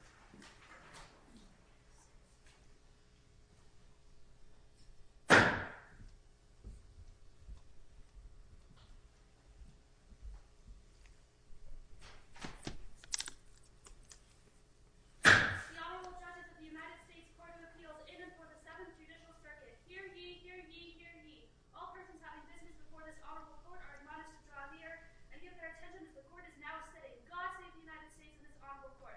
The Honorable Judges of the United States Court of Appeals, in and for the Seventh Judicial Circuit. Hear ye, hear ye, hear ye. All persons having business before this Honorable Court are admonished to draw near and give their attention that the Court is now sitting. May God save the United States and this Honorable Court.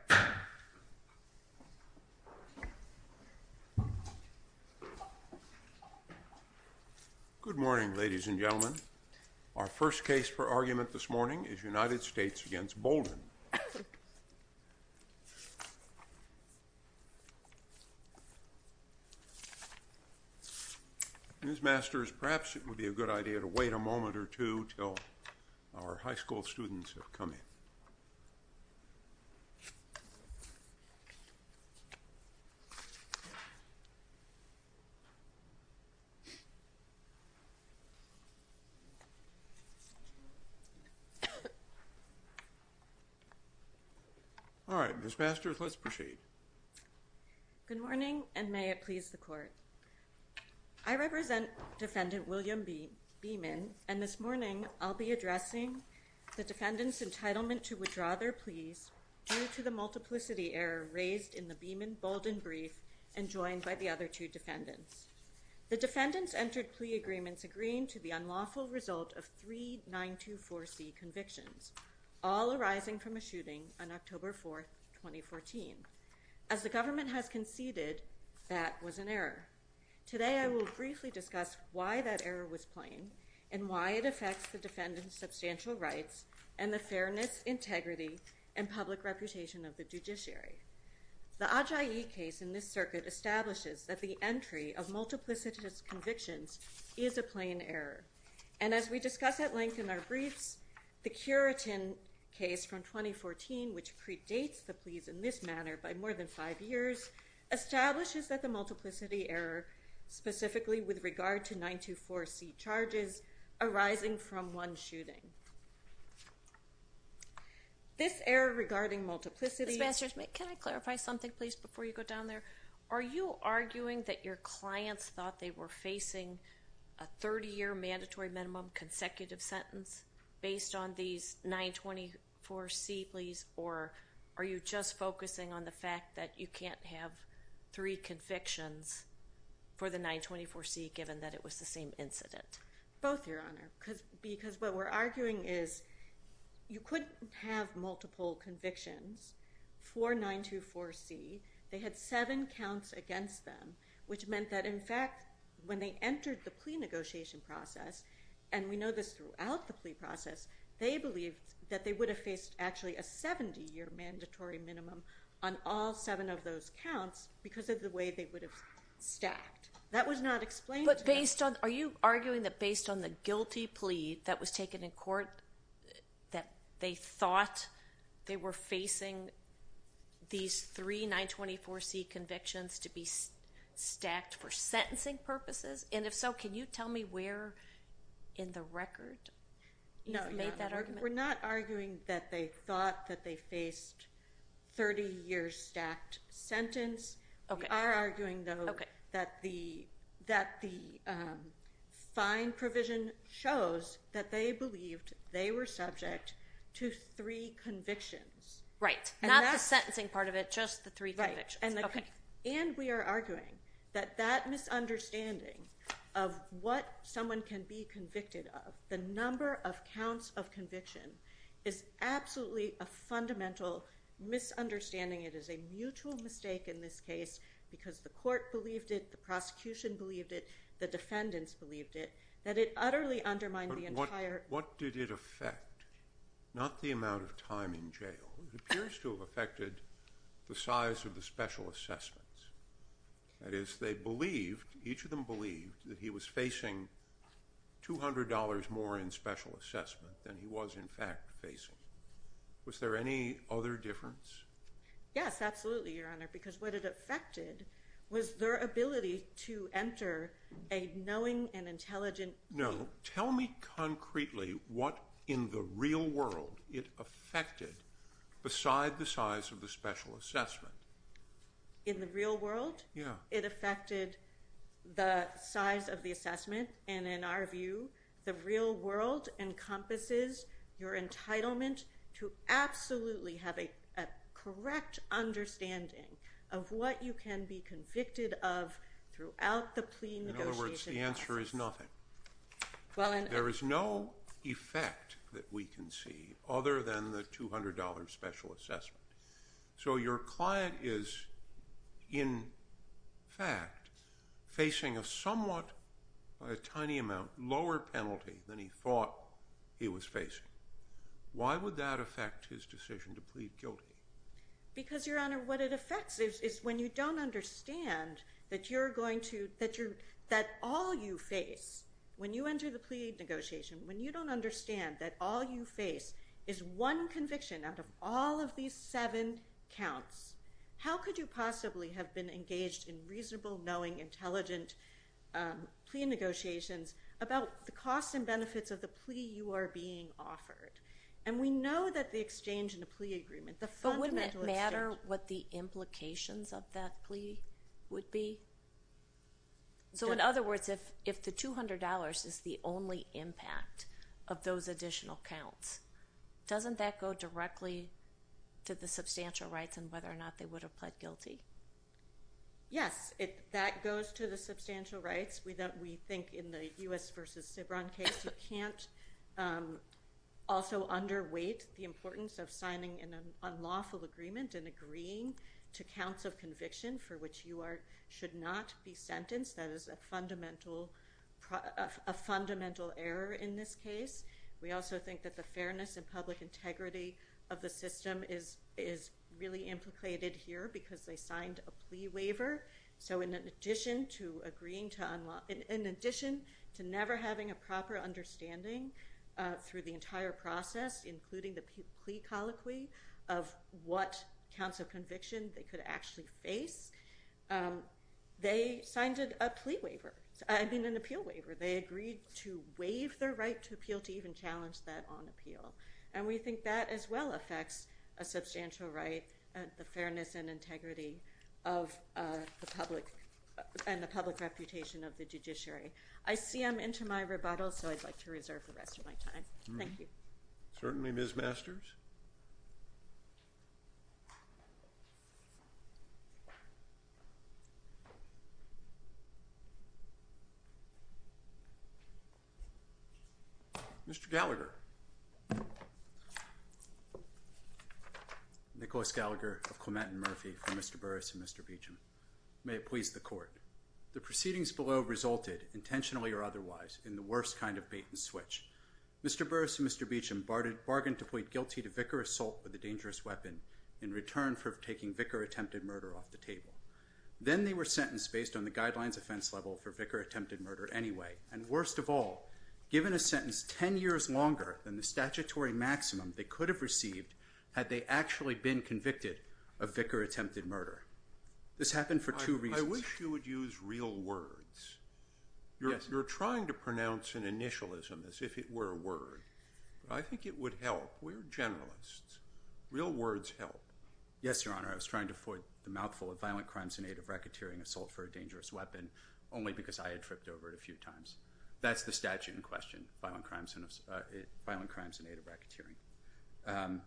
Good morning, ladies and gentlemen. Our first case for argument this morning is United States v. Bolden. Ms. Masters, perhaps it would be a good idea to wait a moment or two until our high school students have come in. All right, Ms. Masters, let's proceed. Good morning, and may it please the Court. I represent Defendant William Beeman, and this morning I'll be addressing the defendant's entitlement to withdraw their pleas due to the multiplicity error raised in the Beeman-Bolden brief and joined by the other two defendants. The defendants entered plea agreements agreeing to the unlawful result of three 924C convictions, all arising from a shooting on October 4, 2014. As the government has conceded, that was an error. Today I will briefly discuss why that error was plain and why it affects the defendant's substantial rights and the fairness, integrity, and public reputation of the judiciary. The Adjaye case in this circuit establishes that the entry of multiplicity convictions is a plain error. And as we discuss at length in our briefs, the Curitin case from 2014, which predates the pleas in this manner by more than five years, establishes that the multiplicity error, specifically with regard to 924C charges, arising from one shooting. This error regarding multiplicity... Ms. Masters, can I clarify something, please, before you go down there? Are you arguing that your clients thought they were facing a 30-year mandatory minimum consecutive sentence based on these 924C pleas, or are you just focusing on the fact that you can't have three convictions for the 924C, given that it was the same incident? Both, Your Honor, because what we're arguing is you couldn't have multiple convictions for 924C. They had seven counts against them, which meant that, in fact, when they entered the plea negotiation process, and we know this throughout the plea process, they believed that they would have faced actually a 70-year mandatory minimum on all seven of those counts because of the way they would have stacked. That was not explained to me. Are you arguing that based on the guilty plea that was taken in court, that they thought they were facing these three 924C convictions to be stacked for sentencing purposes? And if so, can you tell me where in the record you've made that argument? We're not arguing that they thought that they faced 30-year stacked sentence. We are arguing, though, that the fine provision shows that they believed they were subject to three convictions. Right, not the sentencing part of it, just the three convictions. And we are arguing that that misunderstanding of what someone can be convicted of, the number of counts of conviction, is absolutely a fundamental misunderstanding. It is a mutual mistake in this case because the court believed it, the prosecution believed it, the defendants believed it, that it utterly undermined the entire… That is, they believed, each of them believed, that he was facing $200 more in special assessment than he was in fact facing. Was there any other difference? Yes, absolutely, Your Honor, because what it affected was their ability to enter a knowing and intelligent… No, tell me concretely what in the real world it affected beside the size of the special assessment. In the real world? Yeah. It affected the size of the assessment, and in our view, the real world encompasses your entitlement to absolutely have a correct understanding of what you can be convicted of throughout the plea negotiation process. The answer is nothing. There is no effect that we can see other than the $200 special assessment. So your client is, in fact, facing a somewhat tiny amount lower penalty than he thought he was facing. Why would that affect his decision to plead guilty? Because, Your Honor, what it affects is when you don't understand that all you face when you enter the plea negotiation, when you don't understand that all you face is one conviction out of all of these seven counts, how could you possibly have been engaged in reasonable, knowing, intelligent plea negotiations about the costs and benefits of the plea you are being offered? And we know that the exchange in a plea agreement, the fundamental exchange… But wouldn't it matter what the implications of that plea would be? So in other words, if the $200 is the only impact of those additional counts, doesn't that go directly to the substantial rights and whether or not they would have pled guilty? Yes, that goes to the substantial rights. We think in the U.S. v. Cibran case, you can't also underweight the importance of signing an unlawful agreement and agreeing to counts of conviction for which you should not be sentenced. That is a fundamental error in this case. We also think that the fairness and public integrity of the system is really implicated here because they signed a plea waiver. So in addition to never having a proper understanding through the entire process, including the plea colloquy of what counts of conviction they could actually face, they signed an appeal waiver. They agreed to waive their right to appeal, to even challenge that on appeal. And we think that as well affects a substantial right, the fairness and integrity of the public and the public reputation of the judiciary. I see I'm into my rebuttal, so I'd like to reserve the rest of my time. Thank you. Certainly, Ms. Masters. Mr. Gallagher. Nicholas Gallagher of Clement and Murphy for Mr. Burris and Mr. Beecham. May it please the court. The proceedings below resulted, intentionally or otherwise, in the worst kind of bait and switch. Mr. Burris and Mr. Beecham bargained to plead guilty to vicar assault with a dangerous weapon in return for taking vicar-attempted murder off the table. Then they were sentenced based on the guidelines offense level for vicar-attempted murder anyway. And worst of all, given a sentence 10 years longer than the statutory maximum they could have received had they actually been convicted of vicar-attempted murder. This happened for two reasons. I wish you would use real words. You're trying to pronounce an initialism as if it were a word. I think it would help. We're generalists. Real words help. Yes, Your Honor. I was trying to avoid the mouthful of violent crimes in aid of racketeering assault for a dangerous weapon only because I had tripped over it a few times. That's the statute in question, violent crimes in aid of racketeering.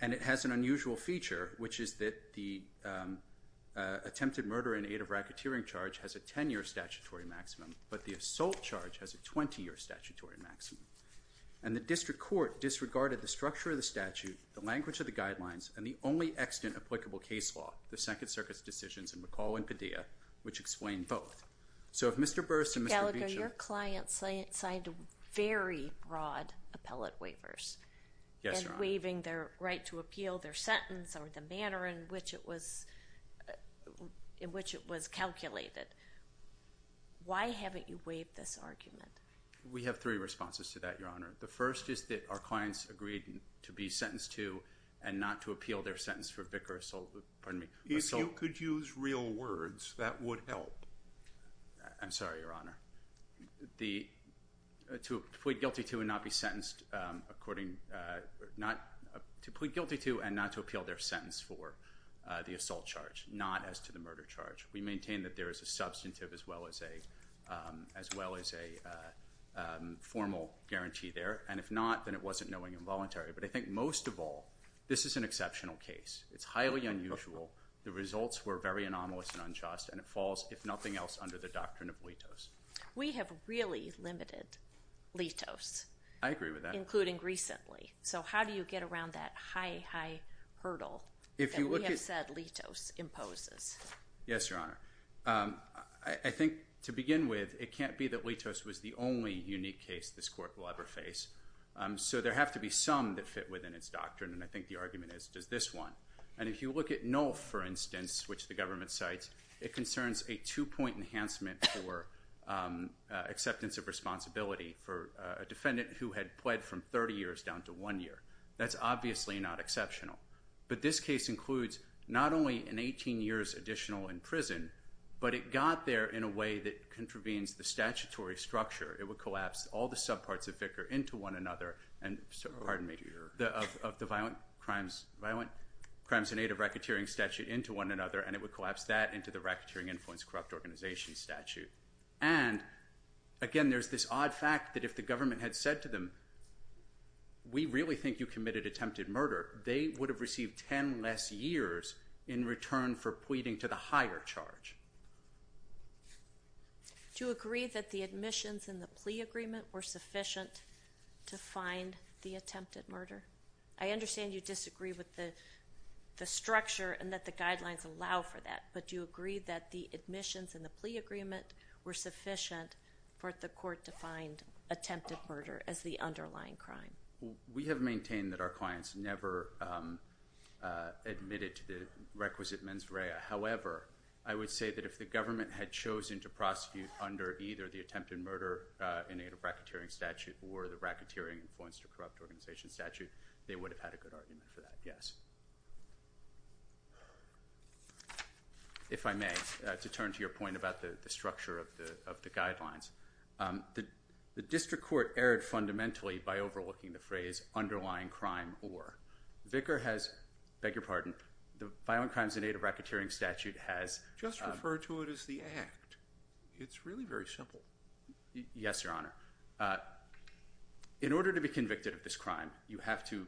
And it has an unusual feature, which is that the attempted murder in aid of racketeering charge has a 10-year statutory maximum, but the assault charge has a 20-year statutory maximum. And the district court disregarded the structure of the statute, the language of the guidelines, and the only extant applicable case law, the Second Circuit's decisions in McCall and Padilla, which explain both. Mr. Gallagher, your clients signed very broad appellate waivers. Yes, Your Honor. And waiving their right to appeal their sentence or the manner in which it was calculated. Why haven't you waived this argument? We have three responses to that, Your Honor. The first is that our clients agreed to be sentenced to and not to appeal their sentence for vicar assault. If you could use real words, that would help. I'm sorry, Your Honor. To plead guilty to and not to appeal their sentence for the assault charge, not as to the murder charge. We maintain that there is a substantive as well as a formal guarantee there. And if not, then it wasn't knowing involuntary. But I think most of all, this is an exceptional case. It's highly unusual. The results were very anomalous and unjust. And it falls, if nothing else, under the doctrine of litos. We have really limited litos. I agree with that. Including recently. So how do you get around that high, high hurdle that we have said litos imposes? Yes, Your Honor. I think to begin with, it can't be that litos was the only unique case this court will ever face. So there have to be some that fit within its doctrine. And I think the argument is, does this one? And if you look at NOLF, for instance, which the government cites, it concerns a two-point enhancement for acceptance of responsibility for a defendant who had pled from 30 years down to one year. That's obviously not exceptional. But this case includes not only an 18 years additional in prison, but it got there in a way that contravenes the statutory structure. It would collapse all the subparts of Vicar into one another. Pardon me. Of the violent crimes in aid of racketeering statute into one another. And it would collapse that into the racketeering influence corrupt organization statute. And, again, there's this odd fact that if the government had said to them, we really think you committed attempted murder, they would have received 10 less years in return for pleading to the higher charge. Do you agree that the admissions and the plea agreement were sufficient to find the attempted murder? I understand you disagree with the structure and that the guidelines allow for that. But do you agree that the admissions and the plea agreement were sufficient for the court to find attempted murder as the underlying crime? We have maintained that our clients never admitted to the requisite mens rea. However, I would say that if the government had chosen to prosecute under either the attempted murder in aid of racketeering statute or the racketeering influence to corrupt organization statute, they would have had a good argument for that. Yes. If I may, to turn to your point about the structure of the guidelines. The district court erred fundamentally by overlooking the phrase underlying crime or. Vicar has, beg your pardon, the violent crimes in aid of racketeering statute has. Just refer to it as the act. It's really very simple. Yes, Your Honor. In order to be convicted of this crime, you have to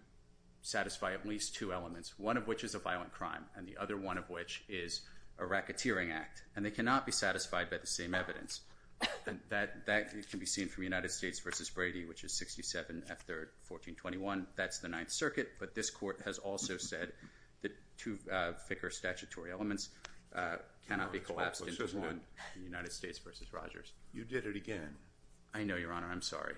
satisfy at least two elements, one of which is a violent crime, and the other one of which is a racketeering act. And they cannot be satisfied by the same evidence. That can be seen from United States v. Brady, which is 67 F. 3rd, 1421. That's the Ninth Circuit. But this court has also said that two thicker statutory elements cannot be collapsed into one. United States v. Rogers. You did it again. I know, Your Honor. I'm sorry.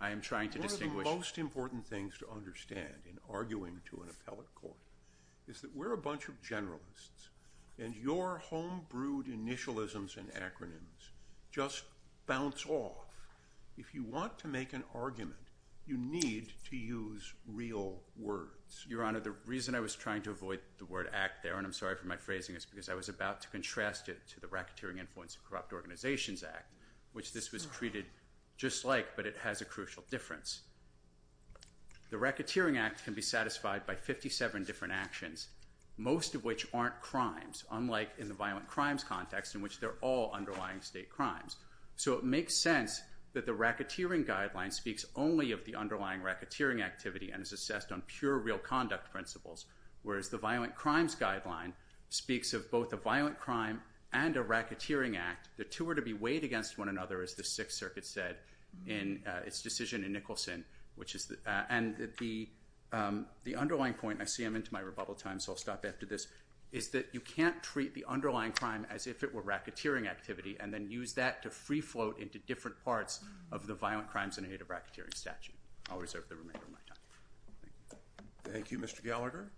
I am trying to distinguish. One of the most important things to understand in arguing to an appellate court is that we're a bunch of generalists, and your home-brewed initialisms and acronyms just bounce off. If you want to make an argument, you need to use real words. Your Honor, the reason I was trying to avoid the word act there, and I'm sorry for my phrasing, is because I was about to contrast it to the Racketeering Influence of Corrupt Organizations Act, which this was treated just like, but it has a crucial difference. The racketeering act can be satisfied by 57 different actions, most of which aren't crimes, unlike in the violent crimes context in which they're all underlying state crimes. So it makes sense that the racketeering guideline speaks only of the underlying racketeering activity and is assessed on pure real conduct principles, whereas the violent crimes guideline speaks of both a violent crime and a racketeering act. The two are to be weighed against one another, as the Sixth Circuit said in its decision in Nicholson. And the underlying point, and I see I'm into my rebuttal time, so I'll stop after this, is that you can't treat the underlying crime as if it were racketeering activity and then use that to free float into different parts of the violent crimes in a native racketeering statute. I'll reserve the remainder of my time. Thank you. Thank you, Mr. Gallagher.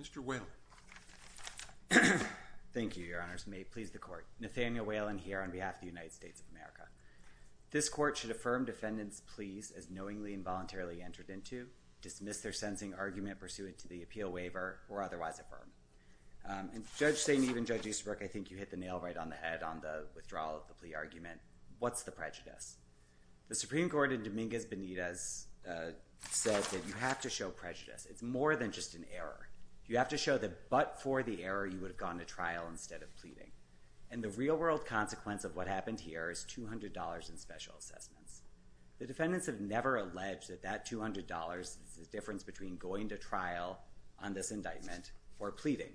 Mr. Whalen. Thank you, Your Honors. May it please the Court. Nathaniel Whalen here on behalf of the United States of America. This Court should affirm defendants' pleas as knowingly and voluntarily entered into, dismiss their sentencing argument pursuant to the appeal waiver, or otherwise affirm. And Judge Sainteve and Judge Easterbrook, I think you hit the nail right on the head on the withdrawal of the plea argument. What's the prejudice? The Supreme Court in Dominguez Benitez said that you have to show prejudice. It's more than just an error. You have to show that but for the error you would have gone to trial instead of pleading. And the real-world consequence of what happened here is $200 in special assessments. The defendants have never alleged that that $200 is the difference between going to trial on this indictment or pleading.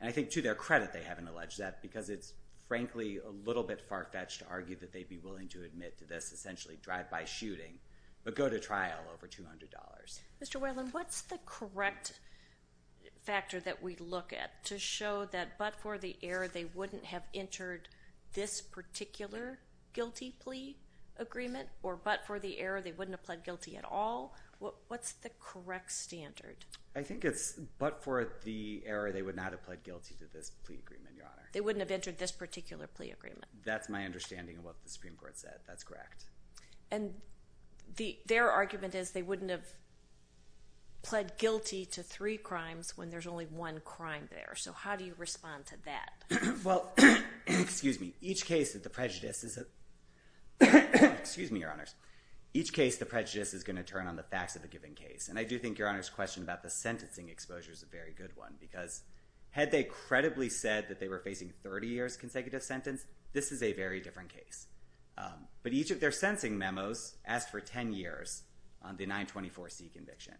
And I think to their credit they haven't alleged that because it's frankly a little bit far-fetched to argue that they'd be willing to admit to this, essentially drive-by shooting, but go to trial over $200. Mr. Whalen, what's the correct factor that we look at to show that but for the error they wouldn't have entered this particular guilty plea agreement, or but for the error they wouldn't have pled guilty at all? What's the correct standard? I think it's but for the error they would not have pled guilty to this plea agreement, Your Honor. They wouldn't have entered this particular plea agreement. That's my understanding of what the Supreme Court said. That's correct. And their argument is they wouldn't have pled guilty to three crimes when there's only one crime there. So how do you respond to that? Well, excuse me, each case of the prejudice is going to turn on the facts of the given case. And I do think Your Honor's question about the sentencing exposure is a very good one because had they credibly said that they were facing 30 years' consecutive sentence, this is a very different case. But each of their sentencing memos asked for 10 years on the 924C conviction.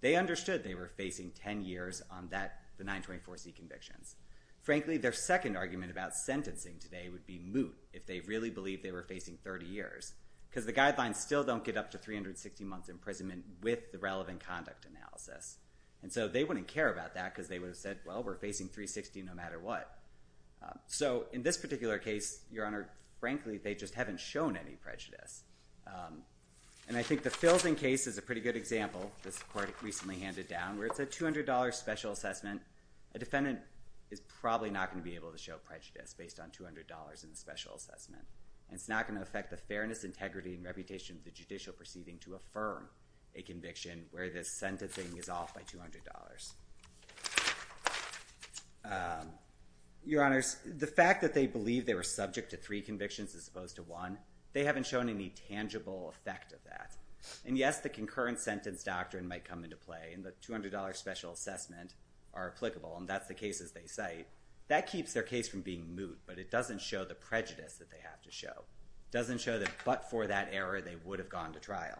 They understood they were facing 10 years on the 924C convictions. Frankly, their second argument about sentencing today would be moot if they really believed they were facing 30 years because the guidelines still don't get up to 360 months' imprisonment with the relevant conduct analysis. And so they wouldn't care about that because they would have said, well, we're facing 360 no matter what. So in this particular case, Your Honor, frankly, they just haven't shown any prejudice. And I think the Filson case is a pretty good example. This court recently handed down where it's a $200 special assessment. A defendant is probably not going to be able to show prejudice based on $200 in the special assessment. And it's not going to affect the fairness, integrity, and reputation of the judicial proceeding to affirm a conviction where the sentencing is off by $200. Your Honors, the fact that they believe they were subject to three convictions as opposed to one, they haven't shown any tangible effect of that. And yes, the concurrent sentence doctrine might come into play, and the $200 special assessment are applicable. And that's the cases they cite. That keeps their case from being moot, but it doesn't show the prejudice that they have to show. It doesn't show that but for that error, they would have gone to trial.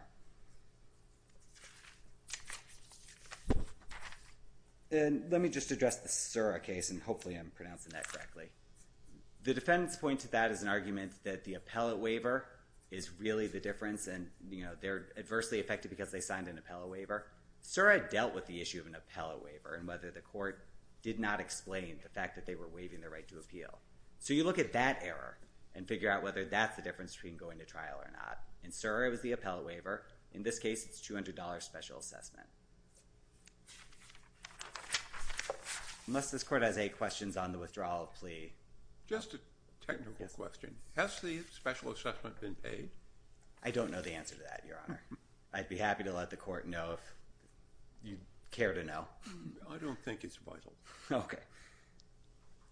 And let me just address the Sura case, and hopefully I'm pronouncing that correctly. The defendant's point to that is an argument that the appellate waiver is really the difference, and they're adversely affected because they signed an appellate waiver. Sura dealt with the issue of an appellate waiver and whether the court did not explain the fact that they were waiving their right to appeal. So you look at that error and figure out whether that's the difference between going to trial or not. In Sura, it was the appellate waiver. In this case, it's $200 special assessment. Unless this court has any questions on the withdrawal of plea. Just a technical question. Has the special assessment been paid? I don't know the answer to that, Your Honor. I'd be happy to let the court know if you care to know. I don't think it's vital. Okay.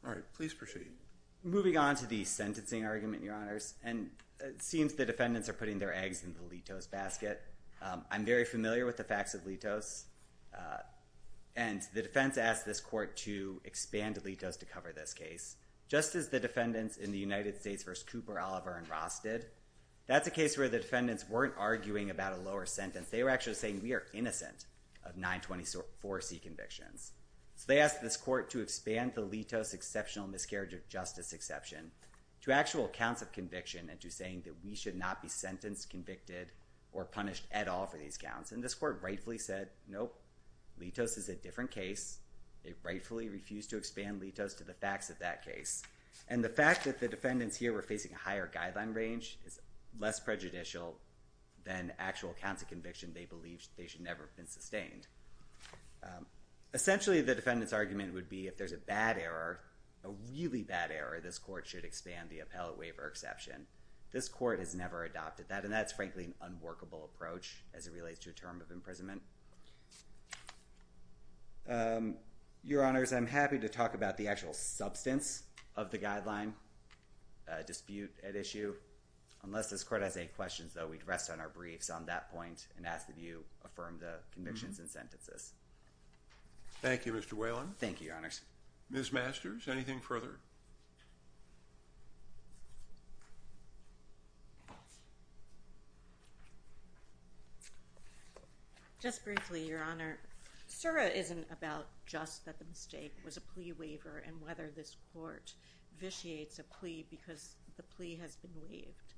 All right. Please proceed. Moving on to the sentencing argument, Your Honors, and it seems the defendants are putting their eggs in the Litos basket. I'm very familiar with the facts of Litos, and the defense asked this court to expand Litos to cover this case. Just as the defendants in the United States v. Cooper, Oliver, and Ross did, that's a case where the defendants weren't arguing about a lower sentence. They were actually saying we are innocent of 924C convictions. They asked this court to expand the Litos exceptional miscarriage of justice exception to actual counts of conviction and to saying that we should not be sentenced, convicted, or punished at all for these counts. And this court rightfully said, nope, Litos is a different case. It rightfully refused to expand Litos to the facts of that case. And the fact that the defendants here were facing a higher guideline range is less prejudicial than actual counts of conviction they believed they should never have been sustained. Essentially, the defendants' argument would be if there's a bad error, a really bad error, this court should expand the appellate waiver exception. This court has never adopted that, and that's frankly an unworkable approach as it relates to a term of imprisonment. Your Honors, I'm happy to talk about the actual substance of the guideline dispute at issue. Unless this court has any questions, though, we'd rest on our briefs on that point and ask that you affirm the convictions and sentences. Thank you, Mr. Whalen. Thank you, Your Honors. Ms. Masters, anything further? Just briefly, Your Honor. SURA isn't about just that the mistake was a plea waiver and whether this court vitiates a plea because the plea has been waived.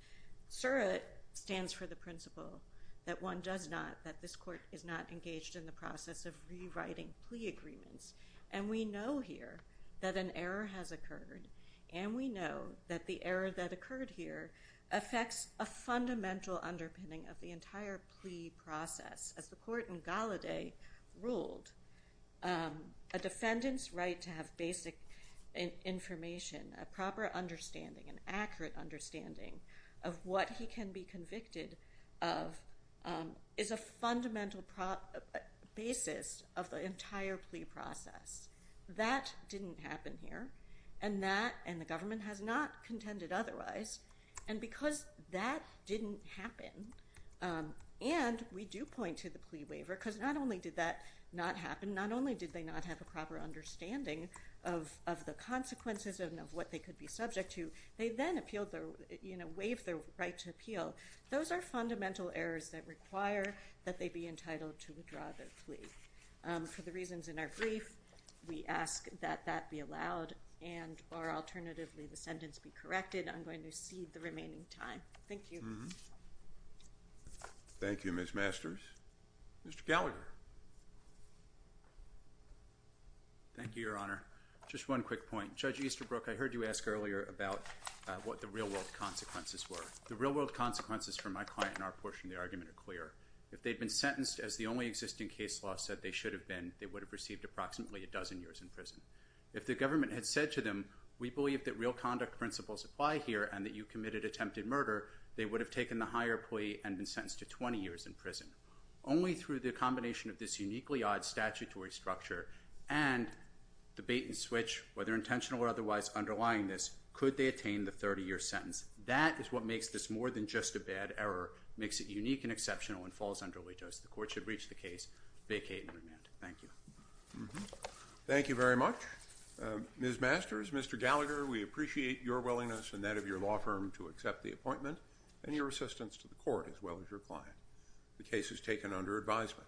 SURA stands for the principle that one does not, that this court is not engaged in the process of rewriting plea agreements. And we know here that an error has occurred, and we know that the error that occurred here affects a fundamental underpinning of the entire plea process. As the court in Gallaudet ruled, a defendant's right to have basic information, a proper understanding, an accurate understanding of what he can be convicted of is a fundamental basis of the entire plea process. That didn't happen here, and that and the government has not contended otherwise. And because that didn't happen, and we do point to the plea waiver because not only did that not happen, not only did they not have a proper understanding of the consequences and of what they could be subject to, they then appealed their, you know, waived their right to appeal. Those are fundamental errors that require that they be entitled to withdraw their plea. For the reasons in our brief, we ask that that be allowed and or alternatively the sentence be corrected. I'm going to cede the remaining time. Thank you. Thank you, Ms. Masters. Mr. Gallagher. Thank you, Your Honor. Just one quick point. Judge Easterbrook, I heard you ask earlier about what the real world consequences were. The real world consequences for my client and our portion of the argument are clear. If they'd been sentenced as the only existing case law said they should have been, they would have received approximately a dozen years in prison. If the government had said to them, we believe that real conduct principles apply here and that you committed attempted murder, they would have taken the higher plea and been sentenced to 20 years in prison. Only through the combination of this uniquely odd statutory structure and the bait and switch, whether intentional or otherwise underlying this, could they attain the 30-year sentence. That is what makes this more than just a bad error. It makes it unique and exceptional and falls under allegiance. The court should reach the case, vacate, and remand. Thank you. Thank you very much. Ms. Masters, Mr. Gallagher, we appreciate your willingness and that of your law firm to accept the appointment and your assistance to the court as well as your client. The case is taken under advisement.